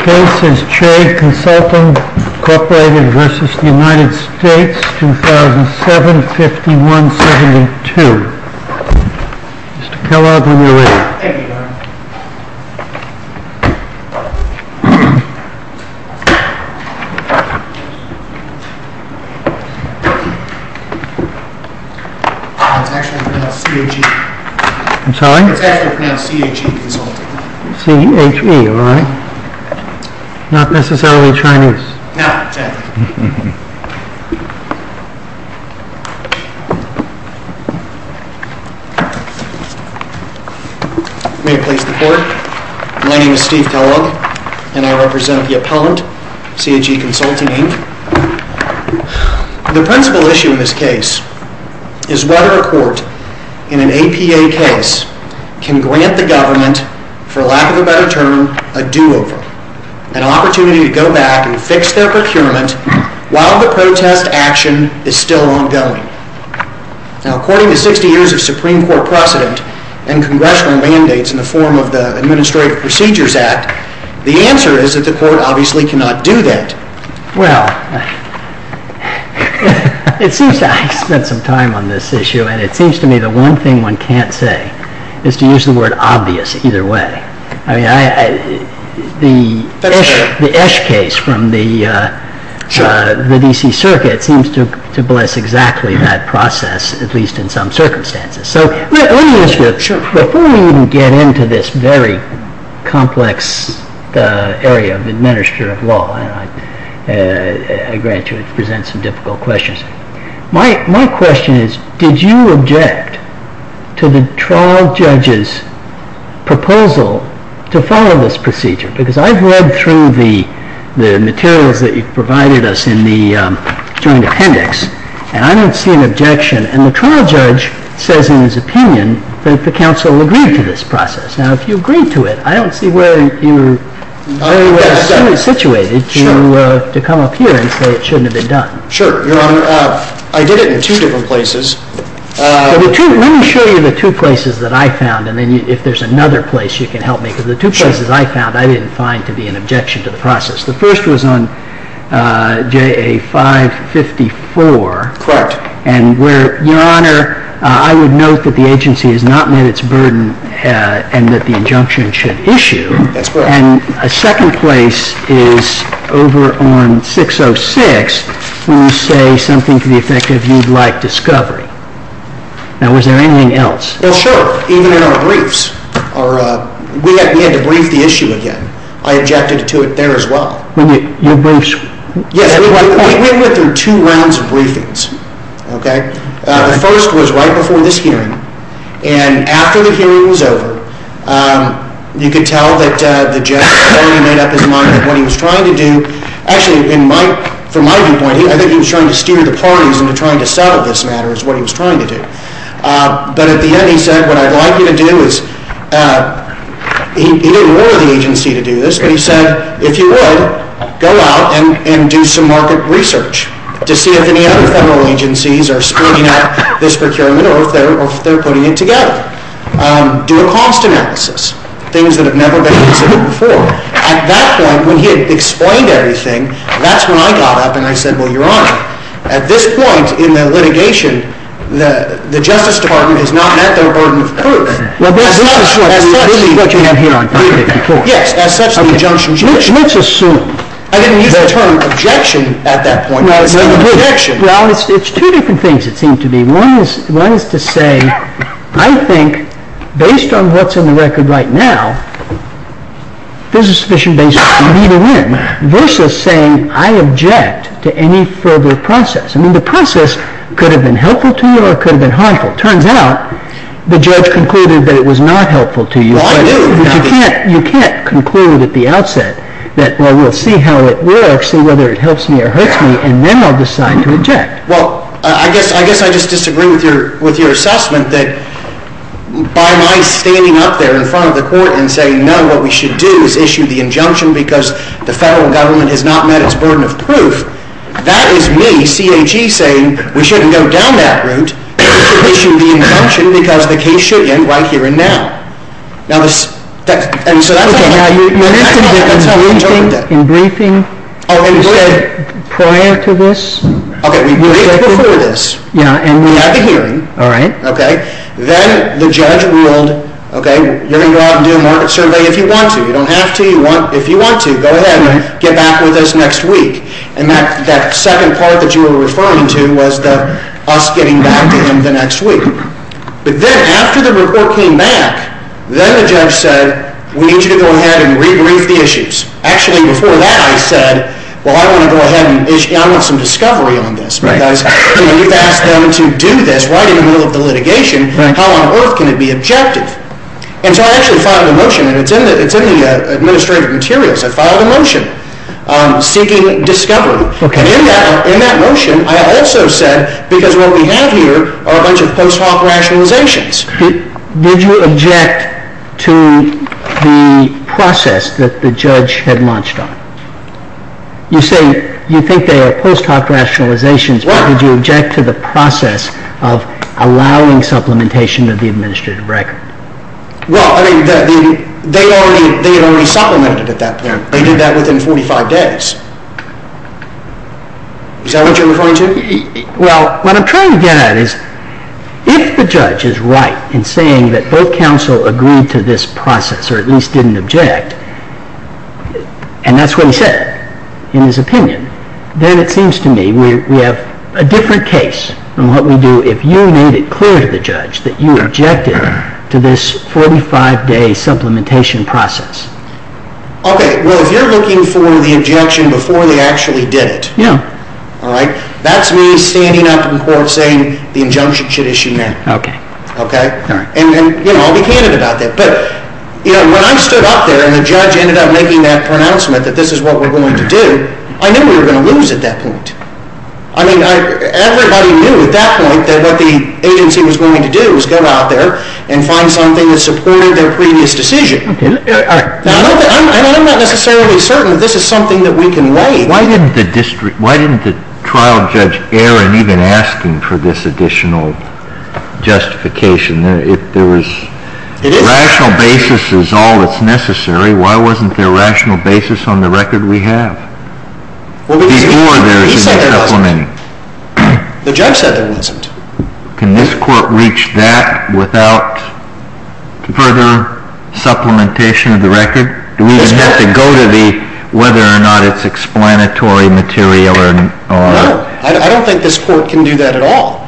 Case is Trade Consulting, Incorporated v. United States, 2007, 5172. Mr. Kellogg, on your way. It's actually pronounced C-H-E. I'm sorry? It's actually pronounced C-H-E Consulting. C-H-E, all right. Not necessarily Chinese. No, exactly. May it please the Court. My name is Steve Kellogg, and I represent the appellant, C-H-E Consulting. The principal issue in this case is whether a court in an APA case can grant the government, for lack of a better term, a do-over, an opportunity to go back and fix their procurement while the protest action is still ongoing. Now, according to 60 years of Supreme Court precedent and Congressional mandates in the form of the Administrative Procedures Act, the answer is that the court obviously cannot do that. Well, I spent some time on this issue, and it seems to me the one thing one can't say is to use the word obvious either way. I mean, the Esch case from the DC Circuit seems to bless exactly that process, at least in some circumstances. So let me ask you, before we even get into this very complex area of administrative law, and I grant you it presents some difficult questions. My question is, did you object to the trial judge's proposal to follow this procedure? Because I've read through the materials that you've provided us in the joint appendix, and I don't see an objection. And the trial judge says in his opinion that the counsel agreed to this process. Now, if you agree to it, I don't see where you are situated to come up here and say it shouldn't have been done. Sure, Your Honor. I did it in two different places. Let me show you the two places that I found, and then if there's another place you can help me. Because the two places I found I didn't find to be an objection to the process. The first was on JA 554. Correct. And where, Your Honor, I would note that the agency has not met its burden and that the injunction should issue. That's correct. And a second place is over on 606 when you say something to the effect of you'd like discovery. Now, was there anything else? Well, sure, even in our briefs. We had to brief the issue again. I objected to it there as well. Your briefs? Yes, we went through two rounds of briefings, okay? The first was right before this hearing, and after the hearing was over, you could tell that the judge had already made up his mind what he was trying to do. Actually, from my viewpoint, I think he was trying to steer the parties into trying to settle this matter is what he was trying to do. But at the end, he said, what I'd like you to do is, he didn't order the agency to do this, but he said, if you would, go out and do some market research to see if any other federal agencies are splitting up this procurement or if they're putting it together. Do a cost analysis, things that have never been considered before. At that point, when he had explained everything, that's when I got up and I said, well, Your Honor, at this point in the litigation, the Justice Department has not met their burden of proof. Well, but this is what you have here on 554. Yes, as such, the injunction was issued. Let's assume. I didn't use the term objection at that point. Well, it's two different things, it seemed to me. One is to say, I think, based on what's on the record right now, there's a sufficient basis for me to win, versus saying I object to any further process. I mean, the process could have been helpful to you or it could have been harmful. It turns out the judge concluded that it was not helpful to you. Well, I knew. But you can't conclude at the outset that, well, we'll see how it works and whether it helps me or hurts me, and then I'll decide to object. Well, I guess I just disagree with your assessment that by my standing up there in front of the court and saying, no, what we should do is issue the injunction because the federal government has not met its burden of proof, that is me, CAG, saying we shouldn't go down that route. We should issue the injunction because the case should end right here and now. Now, this, that's, and so that's how we interpret that. Okay, now, you're not going to do anything in briefing prior to this? Okay, we briefed before this. Yeah. And we had the hearing. All right. Okay. Then the judge ruled, okay, you're going to go out and do a market survey if you want to. You don't have to. If you want to, go ahead and get back with us next week. And that second part that you were referring to was us getting back to him the next week. But then after the report came back, then the judge said, we need you to go ahead and rebrief the issues. Actually, before that, I said, well, I want to go ahead and issue, I want some discovery on this. Because, you know, you've asked them to do this right in the middle of the litigation. How on earth can it be objective? And so I actually filed a motion, and it's in the administrative materials. I filed a motion seeking discovery. Okay. And in that motion, I also said, because what we have here are a bunch of post hoc rationalizations. Did you object to the process that the judge had launched on? You say you think they are post hoc rationalizations, but did you object to the process of allowing supplementation of the administrative record? Well, I mean, they had already supplemented at that point. They did that within 45 days. Is that what you're referring to? Well, what I'm trying to get at is, if the judge is right in saying that both counsel agreed to this process, or at least didn't object, and that's what he said in his opinion, then it seems to me we have a different case than what we do if you made it clear to the judge that you objected to this 45-day supplementation process. Okay. Well, if you're looking for the objection before they actually did it. Yeah. All right? That's me standing up in court saying the injunction should issue now. Okay. Okay? All right. And, you know, I'll be candid about that. But, you know, when I stood up there and the judge ended up making that pronouncement that this is what we're going to do, I knew we were going to lose at that point. I mean, everybody knew at that point that what the agency was going to do was go out there and find something that supported their previous decision. Okay. All right. Now, I'm not necessarily certain that this is something that we can weigh. Why didn't the trial judge err in even asking for this additional justification? If there was rational basis is all that's necessary, why wasn't there rational basis on the record we have? He said there wasn't. The judge said there wasn't. Can this court reach that without further supplementation of the record? Do we have to go to the whether or not it's explanatory material? No. I don't think this court can do that at all.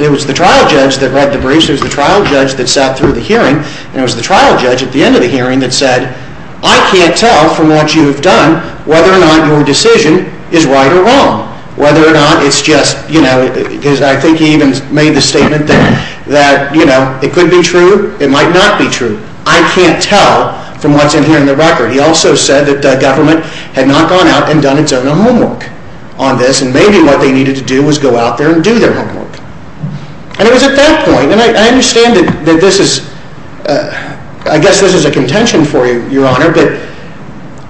It was the trial judge that read the briefs. It was the trial judge that sat through the hearing. And it was the trial judge at the end of the hearing that said, I can't tell from what you have done whether or not your decision is right or wrong. Whether or not it's just, you know, because I think he even made the statement that, you know, it could be true. It might not be true. I can't tell from what's in here in the record. He also said that government had not gone out and done its own homework on this. And maybe what they needed to do was go out there and do their homework. And it was at that point, and I understand that this is, I guess this is a contention for you, Your Honor, but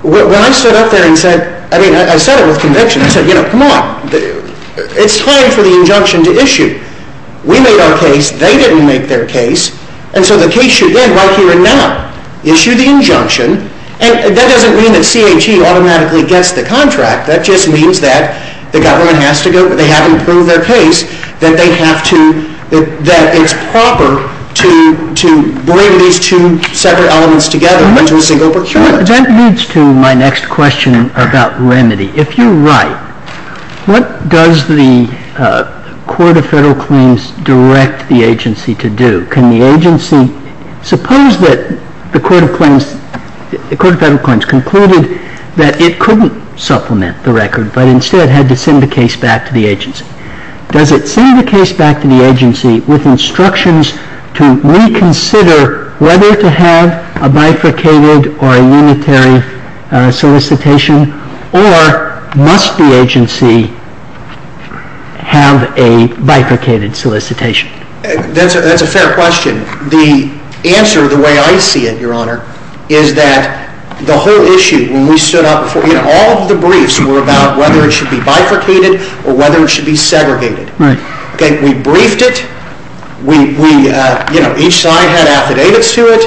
when I stood up there and said, I mean, I said it with conviction. I said, you know, come on. It's time for the injunction to issue. We made our case. They didn't make their case. And so the case should end right here and now. Issue the injunction. And that doesn't mean that CHE automatically gets the contract. That just means that the government has to go, they have to prove their case, that they have to, that it's proper to bring these two separate elements together into a single procurement. That leads to my next question about remedy. If you're right, what does the Court of Federal Claims direct the agency to do? Can the agency, suppose that the Court of Federal Claims concluded that it couldn't supplement the record, but instead had to send the case back to the agency. Does it send the case back to the agency with instructions to reconsider whether to have a bifurcated or a unitary solicitation, or must the agency have a bifurcated solicitation? That's a fair question. The answer, the way I see it, Your Honor, is that the whole issue, when we stood up before, you know, all of the briefs were about whether it should be bifurcated or whether it should be segregated. Right. Okay. We briefed it. We, you know, each side had affidavits to it.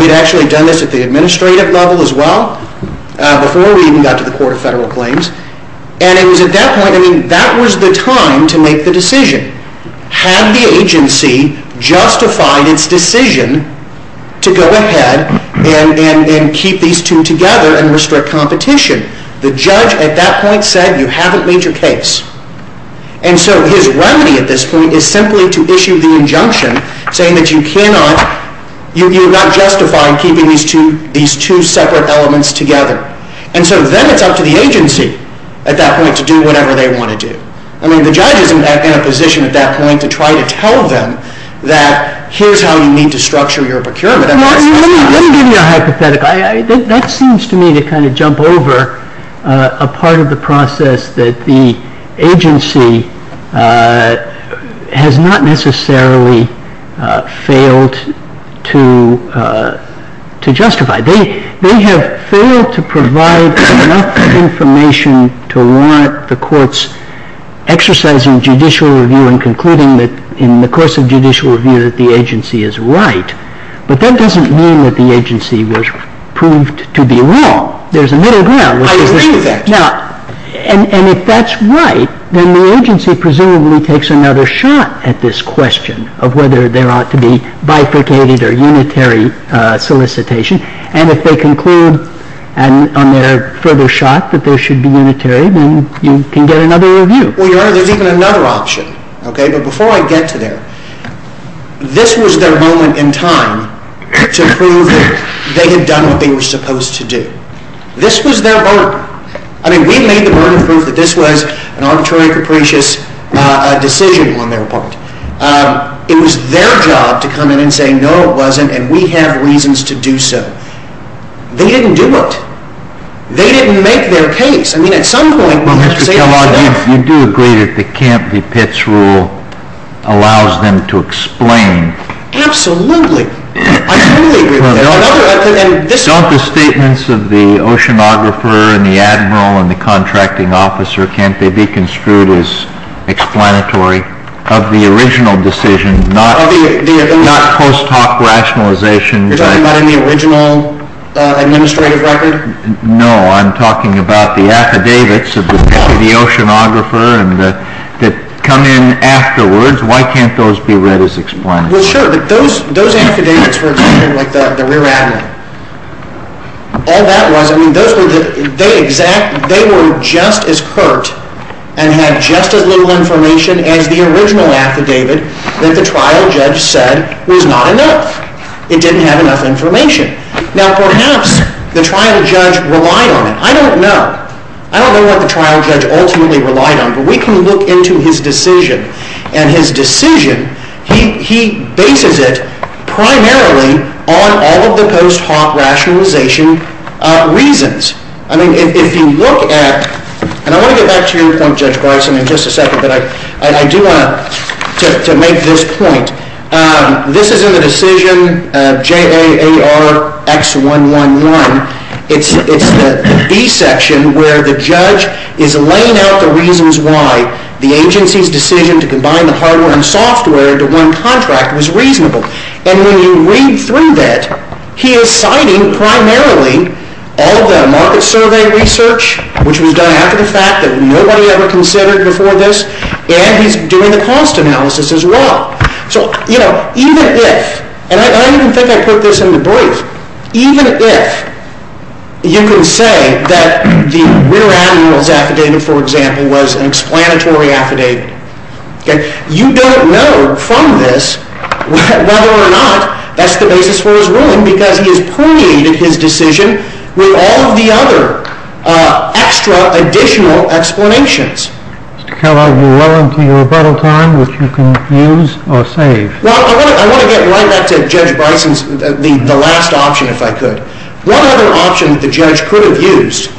We'd actually done this at the administrative level as well before we even got to the Court of Federal Claims. And it was at that point, I mean, that was the time to make the decision. Had the agency justified its decision to go ahead and keep these two together and restrict competition? The judge at that point said, you haven't made your case. And so his remedy at this point is simply to issue the injunction saying that you cannot, you're not justified keeping these two separate elements together. And so then it's up to the agency at that point to do whatever they want to do. I mean, the judge isn't in a position at that point to try to tell them that here's how you need to structure your procurement. Let me give you a hypothetical. That seems to me to kind of jump over a part of the process that the agency has not necessarily failed to justify. They have failed to provide enough information to warrant the courts exercising judicial review and concluding that in the course of judicial review that the agency is right. But that doesn't mean that the agency was proved to be wrong. There's a middle ground. I agree with that. Now, and if that's right, then the agency presumably takes another shot at this question of whether there ought to be bifurcated or unitary solicitation. And if they conclude on their further shot that there should be unitary, then you can get another review. Well, Your Honor, there's even another option, okay? But before I get to there, this was their moment in time to prove that they had done what they were supposed to do. This was their burden. I mean, we made the burden prove that this was an arbitrary, capricious decision on their part. It was their job to come in and say, no, it wasn't, and we have reasons to do so. They didn't do it. They didn't make their case. I mean, at some point, we have to say it's their fault. Well, Mr. Kellogg, you do agree that the Camp v. Pitts rule allows them to explain. Absolutely. I totally agree with that. And this is— Don't the statements of the oceanographer and the admiral and the contracting officer, can't they be construed as explanatory of the original decision, not post hoc rationalization? You're talking about in the original administrative record? No, I'm talking about the affidavits of the oceanographer that come in afterwards. Why can't those be read as explanatory? Well, sure, but those affidavits were in the rear admiral. All that was—I mean, those were the exact—they were just as perked and had just as little information as the original affidavit that the trial judge said was not enough. It didn't have enough information. Now, perhaps the trial judge relied on it. I don't know. I don't know what the trial judge ultimately relied on, but we can look into his decision. And his decision, he bases it primarily on all of the post hoc rationalization reasons. I mean, if you look at—and I want to get back to your point, Judge Bryson, in just a second, but I do want to make this point. This is in the decision JAARX111. It's the B section where the judge is laying out the reasons why the agency's decision to combine the hardware and software into one contract was reasonable. And when you read through that, he is citing primarily all of the market survey research, which was done after the fact that nobody ever considered before this, and he's doing the cost analysis as well. So, you know, even if—and I don't even think I put this in the brief. Even if you can say that the Ritter-Admiral's affidavit, for example, was an explanatory affidavit, you don't know from this whether or not that's the basis for his ruling because he has permeated his decision with all of the other extra additional explanations. Mr. Keller, you're well into your rebuttal time, which you can use or save. Well, I want to get right back to Judge Bryson's—the last option, if I could. One other option that the judge could have used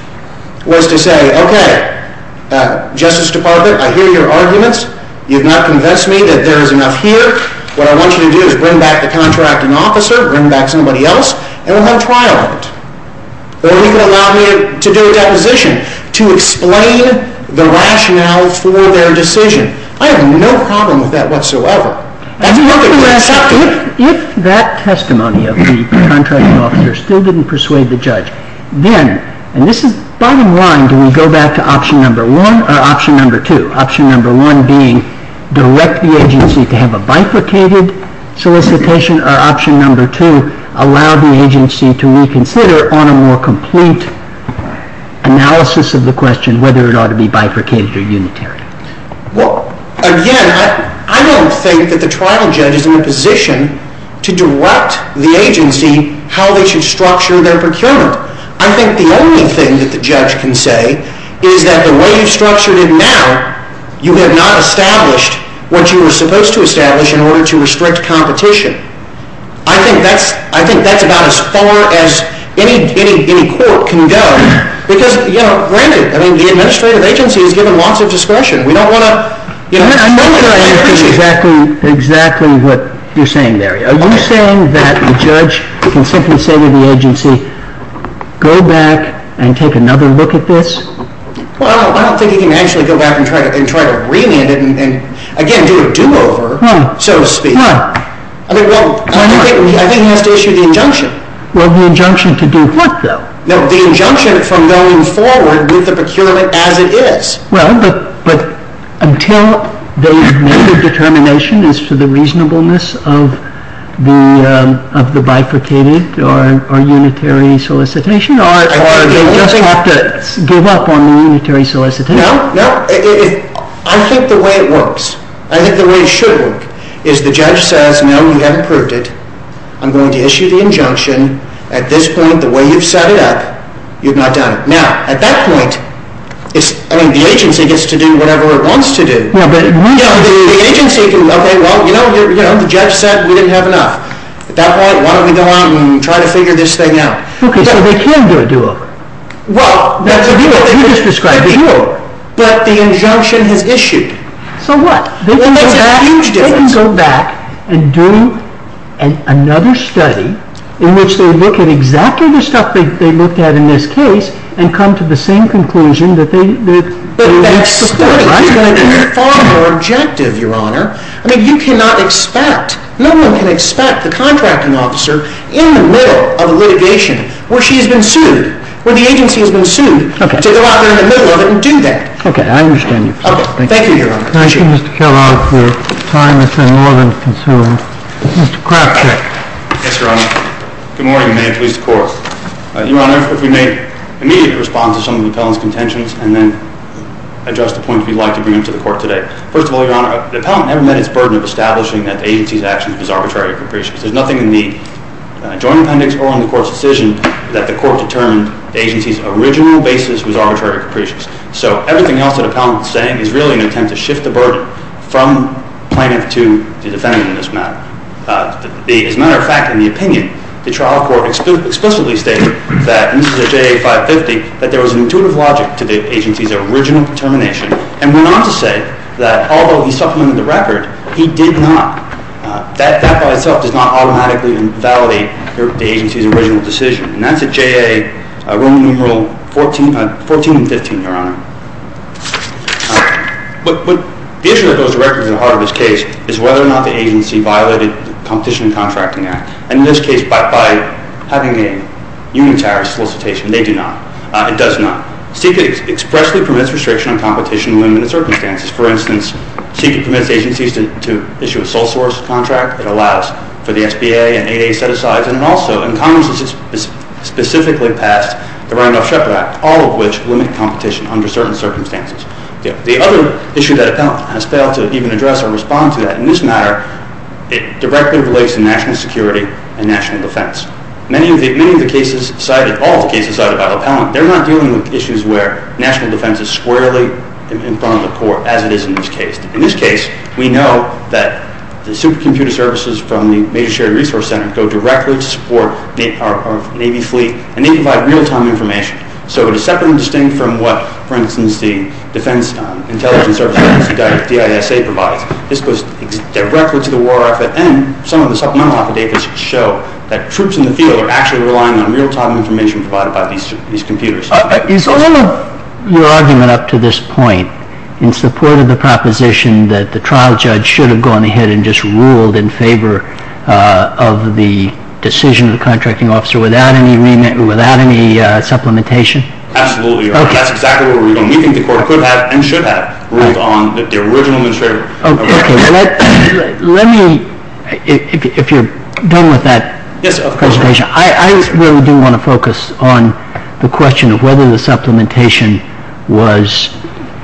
was to say, okay, Justice Department, I hear your arguments. You've not convinced me that there is enough here. What I want you to do is bring back the contracting officer, bring back somebody else, and we'll have a trial on it. Or he could allow me to do a deposition to explain the rationale for their decision. I have no problem with that whatsoever. If that testimony of the contracting officer still didn't persuade the judge, then—and this is bottom line—do we go back to option number one or option number two? Option number one being direct the agency to have a bifurcated solicitation or option number two, allow the agency to reconsider on a more complete analysis of the question whether it ought to be bifurcated or unitary. Well, again, I don't think that the trial judge is in a position to direct the agency how they should structure their procurement. I think the only thing that the judge can say is that the way you've structured it now, you have not established what you were supposed to establish in order to restrict competition. I think that's about as far as any court can go because, you know, granted, I mean, the administrative agency has given lots of discretion. We don't want to— I don't think I understand exactly what you're saying there. Are you saying that the judge can simply say to the agency, go back and take another look at this? Well, I don't think he can actually go back and try to remand it and, again, do a do-over, so to speak. No. I mean, well, I think he has to issue the injunction. Well, the injunction to do what, though? No, the injunction from going forward with the procurement as it is. Well, but until they've made a determination as to the reasonableness of the bifurcated or unitary solicitation, or do they just have to give up on the unitary solicitation? No, no. I think the way it works, I think the way it should work, is the judge says, no, you haven't proved it. I'm going to issue the injunction. At this point, the way you've set it up, you've not done it. Now, at that point, I mean, the agency gets to do whatever it wants to do. Yeah, but— The agency can, okay, well, you know, the judge said we didn't have enough. At that point, why don't we go on and try to figure this thing out? Okay, so they can do a do-over. Well, that's a do-over. You just described a do-over. But the injunction has issued. So what? Well, that's a huge difference. They can go back and do another study in which they look at exactly the stuff they looked at in this case and come to the same conclusion that they— But that study is going to be far more objective, Your Honor. I mean, you cannot expect, no one can expect the contracting officer in the middle of a litigation where she has been sued, where the agency has been sued, to go out there in the middle of it and do that. Okay, I understand your point. Okay, thank you, Your Honor. Thank you, Mr. Kellogg, for time that's been more than consumed. Mr. Krafchick. Yes, Your Honor. Good morning, and may it please the Court. Your Honor, if we may immediately respond to some of the appellant's contentions and then address the points we'd like to bring up to the Court today. First of all, Your Honor, the appellant never met its burden of establishing that the agency's actions was arbitrary or capricious. There's nothing in the joint appendix or in the Court's decision that the Court determined the agency's original basis was arbitrary or capricious. So everything else that the appellant is saying is really an attempt to shift the burden from plaintiff to defendant in this matter. As a matter of fact, in the opinion, the trial court explicitly stated that in the J.A. 550 that there was an intuitive logic to the agency's original determination and went on to say that although he supplemented the record, he did not. That by itself does not automatically validate the agency's original decision. And that's at J.A. Roman numeral 14 and 15, Your Honor. The issue that goes directly to the heart of this case is whether or not the agency violated the Competition and Contracting Act. And in this case, by having a unitary solicitation, they do not. It does not. SECCIT expressly permits restriction on competition in limited circumstances. For instance, SECCIT permits agencies to issue a sole source contract. It allows for the SBA and 8A set-asides. And also, in Congress, it's specifically passed the Randolph-Shepard Act, all of which limit competition under certain circumstances. The other issue that appellant has failed to even address or respond to that in this matter, it directly relates to national security and national defense. Many of the cases cited, all of the cases cited by the appellant, they're not dealing with issues where national defense is squarely in front of the court, as it is in this case. In this case, we know that the supercomputer services from the Major Sherry Resource Center go directly to support our Navy fleet, and they provide real-time information. So it is separate and distinct from what, for instance, the Defense Intelligence Services Agency, DISA, provides. This goes directly to the war effort. And some of the supplemental affidavits show that troops in the field are actually relying on real-time information provided by these computers. Is all of your argument up to this point in support of the proposition that the trial judge should have gone ahead and just ruled in favor of the decision of the contracting officer without any remit or without any supplementation? Absolutely. That's exactly what we're doing. We think the court could have and should have ruled on the original administrator. Okay. Let me, if you're done with that presentation, I really do want to focus on the question of whether the supplementation was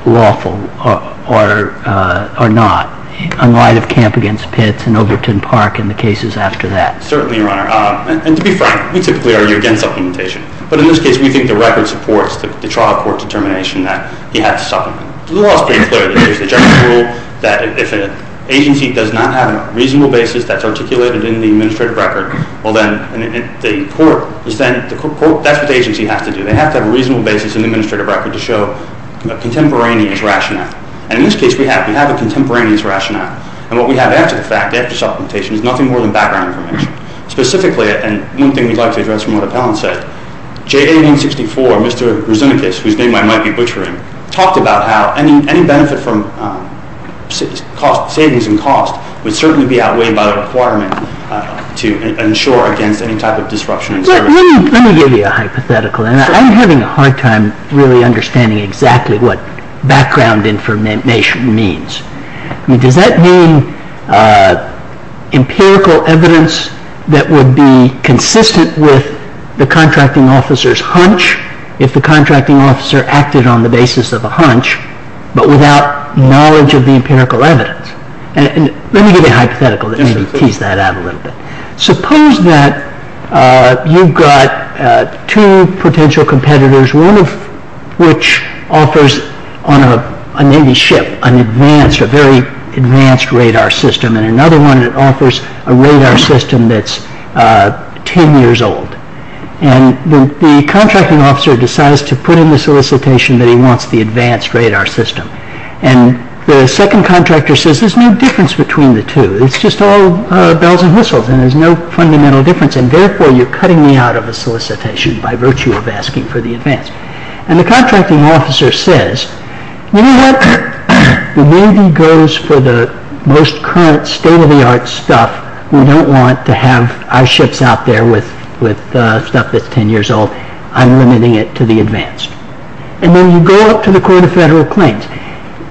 lawful or not, in light of Camp against Pitts and Overton Park and the cases after that. Certainly, Your Honor. And to be frank, we typically argue against supplementation. But in this case, we think the record supports the trial court determination that he had to supplement. The law is pretty clear. There's the general rule that if an agency does not have a reasonable basis that's articulated in the administrative record, well then, the court, that's what the agency has to do. They have to have a reasonable basis in the administrative record to show a contemporaneous rationale. And in this case, we have a contemporaneous rationale. And what we have after the fact, after supplementation, is nothing more than background information. Specifically, and one thing we'd like to address from what Appellant said, J1864, Mr. Rosinicus, whose name I might be butchering, talked about how any benefit from savings in cost would certainly be outweighed by the requirement to insure against any type of disruption in service. Let me give you a hypothetical. I'm having a hard time really understanding exactly what background information means. Does that mean empirical evidence that would be consistent with the contracting officer's hunch if the contracting officer acted on the basis of a hunch but without knowledge of the empirical evidence? Let me give you a hypothetical to tease that out a little bit. Suppose that you've got two potential competitors, one of which offers on a Navy ship a very advanced radar system, and another one offers a radar system that's 10 years old. And the contracting officer decides to put in the solicitation that he wants the advanced radar system. And the second contractor says, there's no difference between the two. It's just all bells and whistles, and there's no fundamental difference, and therefore you're cutting me out of a solicitation by virtue of asking for the advanced. And the contracting officer says, you know what? The Navy goes for the most current, state-of-the-art stuff. We don't want to have our ships out there with stuff that's 10 years old. I'm limiting it to the advanced. And then you go up to the Court of Federal Claims.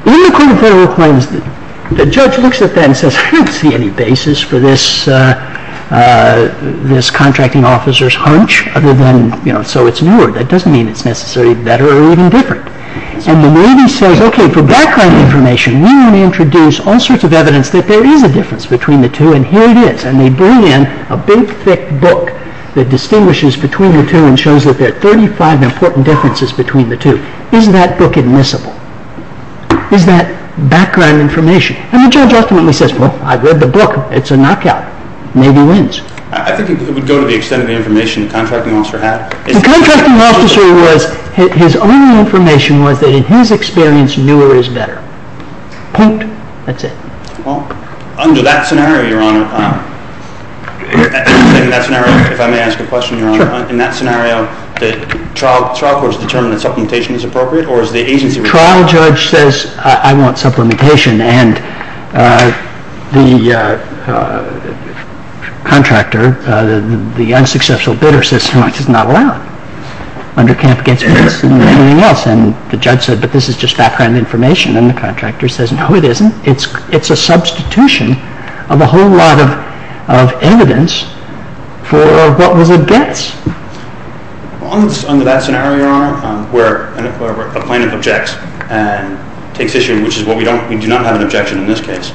In the Court of Federal Claims, the judge looks at that and says, I don't see any basis for this contracting officer's hunch other than, you know, so it's newer. That doesn't mean it's necessarily better or even different. And the Navy says, okay, for background information, we want to introduce all sorts of evidence that there is a difference between the two, and here it is. And they bring in a big, thick book that distinguishes between the two and shows that there are 35 important differences between the two. Is that book admissible? Is that background information? And the judge ultimately says, well, I've read the book. It's a knockout. Navy wins. I think it would go to the extent of the information the contracting officer had. The contracting officer was, his only information was that in his experience, newer is better. Point. That's it. Well, under that scenario, Your Honor, if I may ask a question, Your Honor, in that scenario, the trial court has determined that supplementation is appropriate, or is the agency— The trial judge says, I want supplementation, and the contractor, the unsuccessful bidder, says, how much is it not allowed? Under camp against me, it's better than anything else. And the judge said, but this is just background information. And the contractor says, no, it isn't. It's a substitution of a whole lot of evidence for what was against. Under that scenario, Your Honor, where a plaintiff objects and takes issue, which is what we don't—we do not have an objection in this case.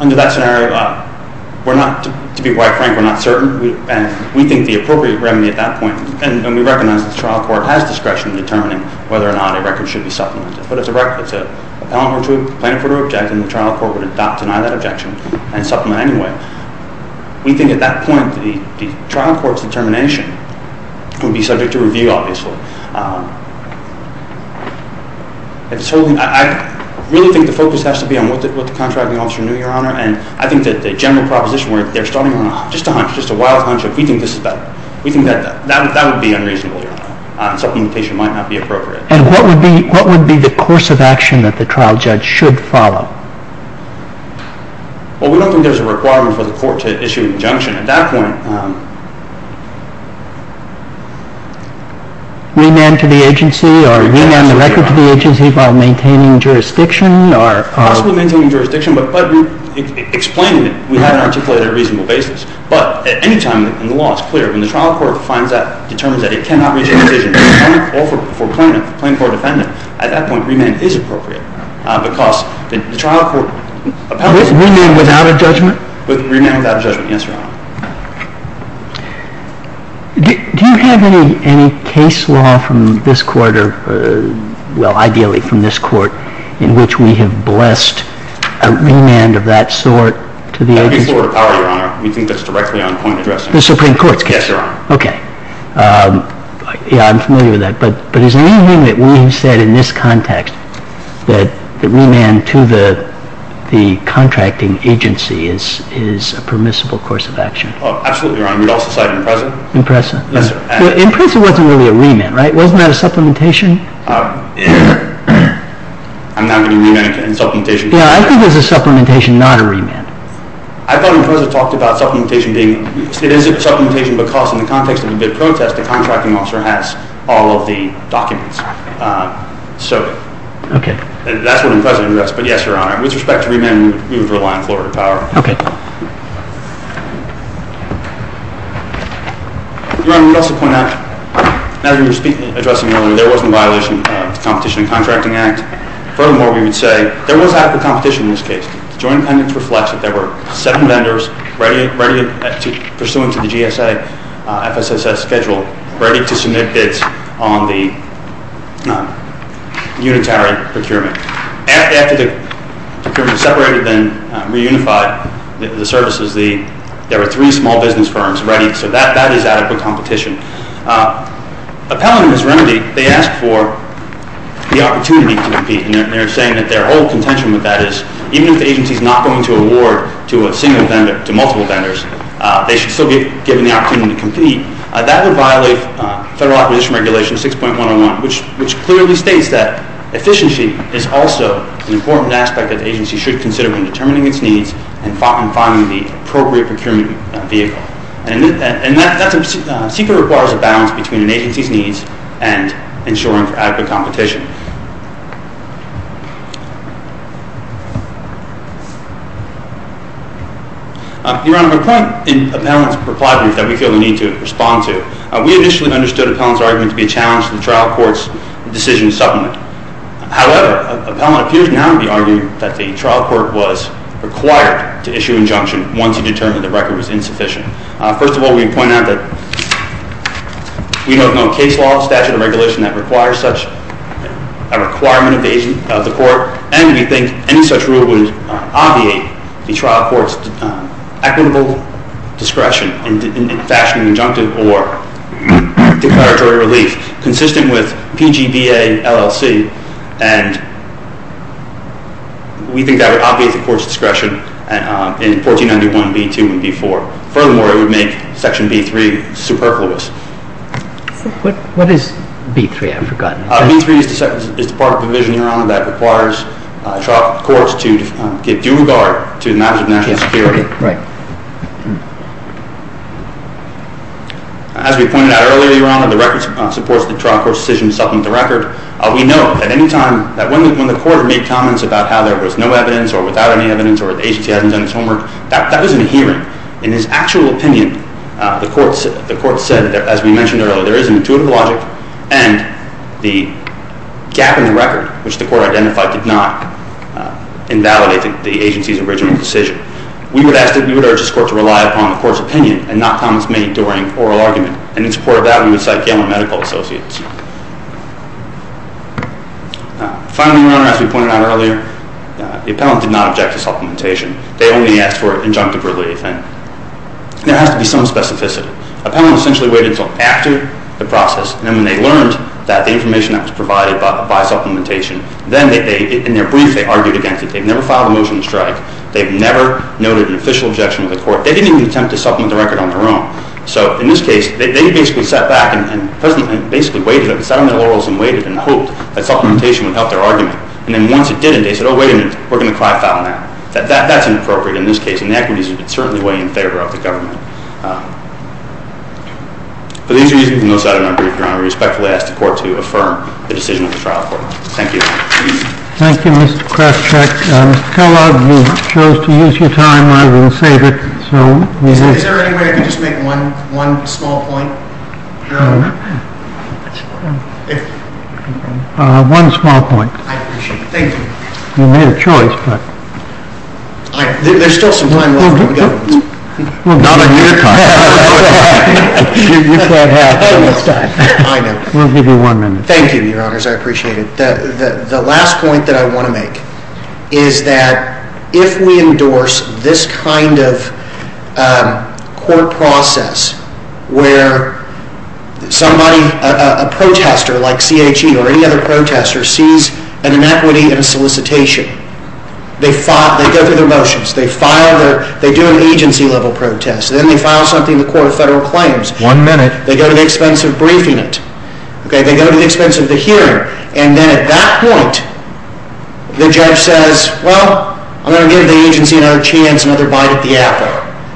Under that scenario, we're not—to be quite frank, we're not certain. And we think the appropriate remedy at that point, and we recognize the trial court has discretion in determining whether or not a record should be supplemented. But it's a record. It's an appellant or two, the plaintiff would object, and the trial court would deny that objection and supplement anyway. We think at that point, the trial court's determination would be subject to review, obviously. I really think the focus has to be on what the contracting officer knew, Your Honor, and I think that the general proposition where they're starting on just a wild hunch of, we think this is better. We think that would be unreasonable, Your Honor. Supplementation might not be appropriate. And what would be the course of action that the trial judge should follow? Well, we don't think there's a requirement for the court to issue an injunction at that point. Remand to the agency or remand the record to the agency while maintaining jurisdiction or— Possibly maintaining jurisdiction, but explaining it. We haven't articulated a reasonable basis. But at any time in the law, it's clear. When the trial court finds that, determines that it cannot reach a decision for plaintiff, plaintiff or defendant, at that point, remand is appropriate because the trial court— Remand without a judgment? Remand without a judgment, yes, Your Honor. Do you have any case law from this court, well, ideally from this court, in which we have blessed a remand of that sort to the agency? That would be floor to power, Your Honor. We think that's directly on point addressing. The Supreme Court's case? Yes, Your Honor. Okay. Yeah, I'm familiar with that. But is there anything that we have said in this context that remand to the contracting agency is a permissible course of action? Oh, absolutely, Your Honor. We'd also cite Impreza. Impreza? Yes, sir. Impreza wasn't really a remand, right? Wasn't that a supplementation? I'm not going to remand in supplementation. Yeah, I think it was a supplementation, not a remand. I thought Impreza talked about supplementation being, it is a supplementation because in the context of a bid protest, the contracting officer has all of the documents. So that's what Impreza does. But yes, Your Honor, with respect to remand, we would rely on floor to power. Okay. Your Honor, I would also point out, as we were addressing earlier, there wasn't a violation of the Competition and Contracting Act. Furthermore, we would say there was half the competition in this case. The Joint Appendix reflects that there were seven vendors ready, pursuant to the GSA FSSS schedule, ready to submit bids on the unitary procurement. After the procurement separated and reunified the services, there were three small business firms ready. So that is adequate competition. Appellant and his remedy, they asked for the opportunity to compete, and they're saying that their whole contention with that is even if the agency is not going to award to a single vendor, to multiple vendors, they should still be given the opportunity to compete. That would violate Federal Acquisition Regulation 6.101, which clearly states that efficiency is also an important aspect that the agency should consider when determining its needs and finding the appropriate procurement vehicle. And that's a secret requires a balance between an agency's needs and ensuring for adequate competition. Your Honor, my point in Appellant's reply is that we feel the need to respond to. We initially understood Appellant's argument to be a challenge to the trial court's decision to supplement. However, Appellant appears now to be arguing that the trial court was required to issue injunction once he determined the record was insufficient. First of all, we point out that we don't know a case law or statute of regulation that requires such a requirement of the court. And we think any such rule would obviate the trial court's equitable discretion in fashioning injunctive or declaratory relief consistent with PGBA LLC. And we think that would obviate the court's discretion in 1491 B.2 and B.4. Furthermore, it would make Section B.3 superfluous. What is B.3? I've forgotten. B.3 is the part of the provision, Your Honor, that requires trial courts to give due regard to the matters of national security. Right. As we pointed out earlier, Your Honor, the record supports the trial court's decision to supplement the record. We know at any time that when the court made comments about how there was no evidence or without any evidence or the agency hadn't done its homework, that was in a hearing. In its actual opinion, the court said, as we mentioned earlier, there is an intuitive logic and the gap in the record, which the court identified, did not invalidate the agency's original decision. We would urge this court to rely upon the court's opinion and not comments made during oral argument. And in support of that, we would cite Gamma Medical Associates. Finally, Your Honor, as we pointed out earlier, the appellant did not object to supplementation. They only asked for injunctive relief. And there has to be some specificity. Appellants essentially waited until after the process, and then when they learned that the information that was provided by supplementation, then in their brief, they argued against it. They've never filed a motion to strike. They've never noted an official objection to the court. They didn't even attempt to supplement the record on their own. So in this case, they basically sat back and basically waited. They sat on their laurels and waited and hoped that supplementation would help their argument. And then once it didn't, they said, oh, wait a minute. We're going to cry foul now. That's inappropriate in this case. And the equity is certainly way in favor of the government. For these reasons, and those that are in our brief, Your Honor, we respectfully ask the court to affirm the decision of the trial court. Thank you. Thank you, Mr. Krescheck. Mr. Kellogg, you chose to use your time rather than save it. Is there any way I could just make one small point? One small point. I appreciate it. Thank you. You made a choice, but. There's still some time left in the government. Not on your time. We'll give you one minute. Thank you, Your Honors. I appreciate it. The last point that I want to make is that if we endorse this kind of court process where somebody, a protester like CHE or any other protester, sees an inequity in a solicitation, they go through their motions. They do an agency-level protest. Then they file something in the Court of Federal Claims. One minute. They go to the expense of briefing it. They go to the expense of the hearing. And then at that point, the judge says, Well, I'm going to give the agency another chance, another bite at the apple.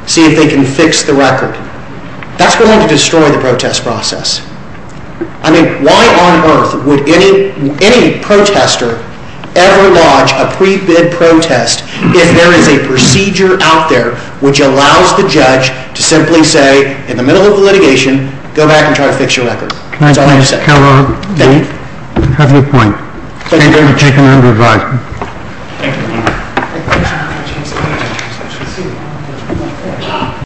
See if they can fix the record. That's going to destroy the protest process. I mean, why on earth would any protester ever lodge a pre-bid protest if there is a procedure out there which allows the judge to simply say, In the middle of litigation, go back and try to fix your record. That's all I have to say. Thank you. Thank you. I have no point. I take another vote.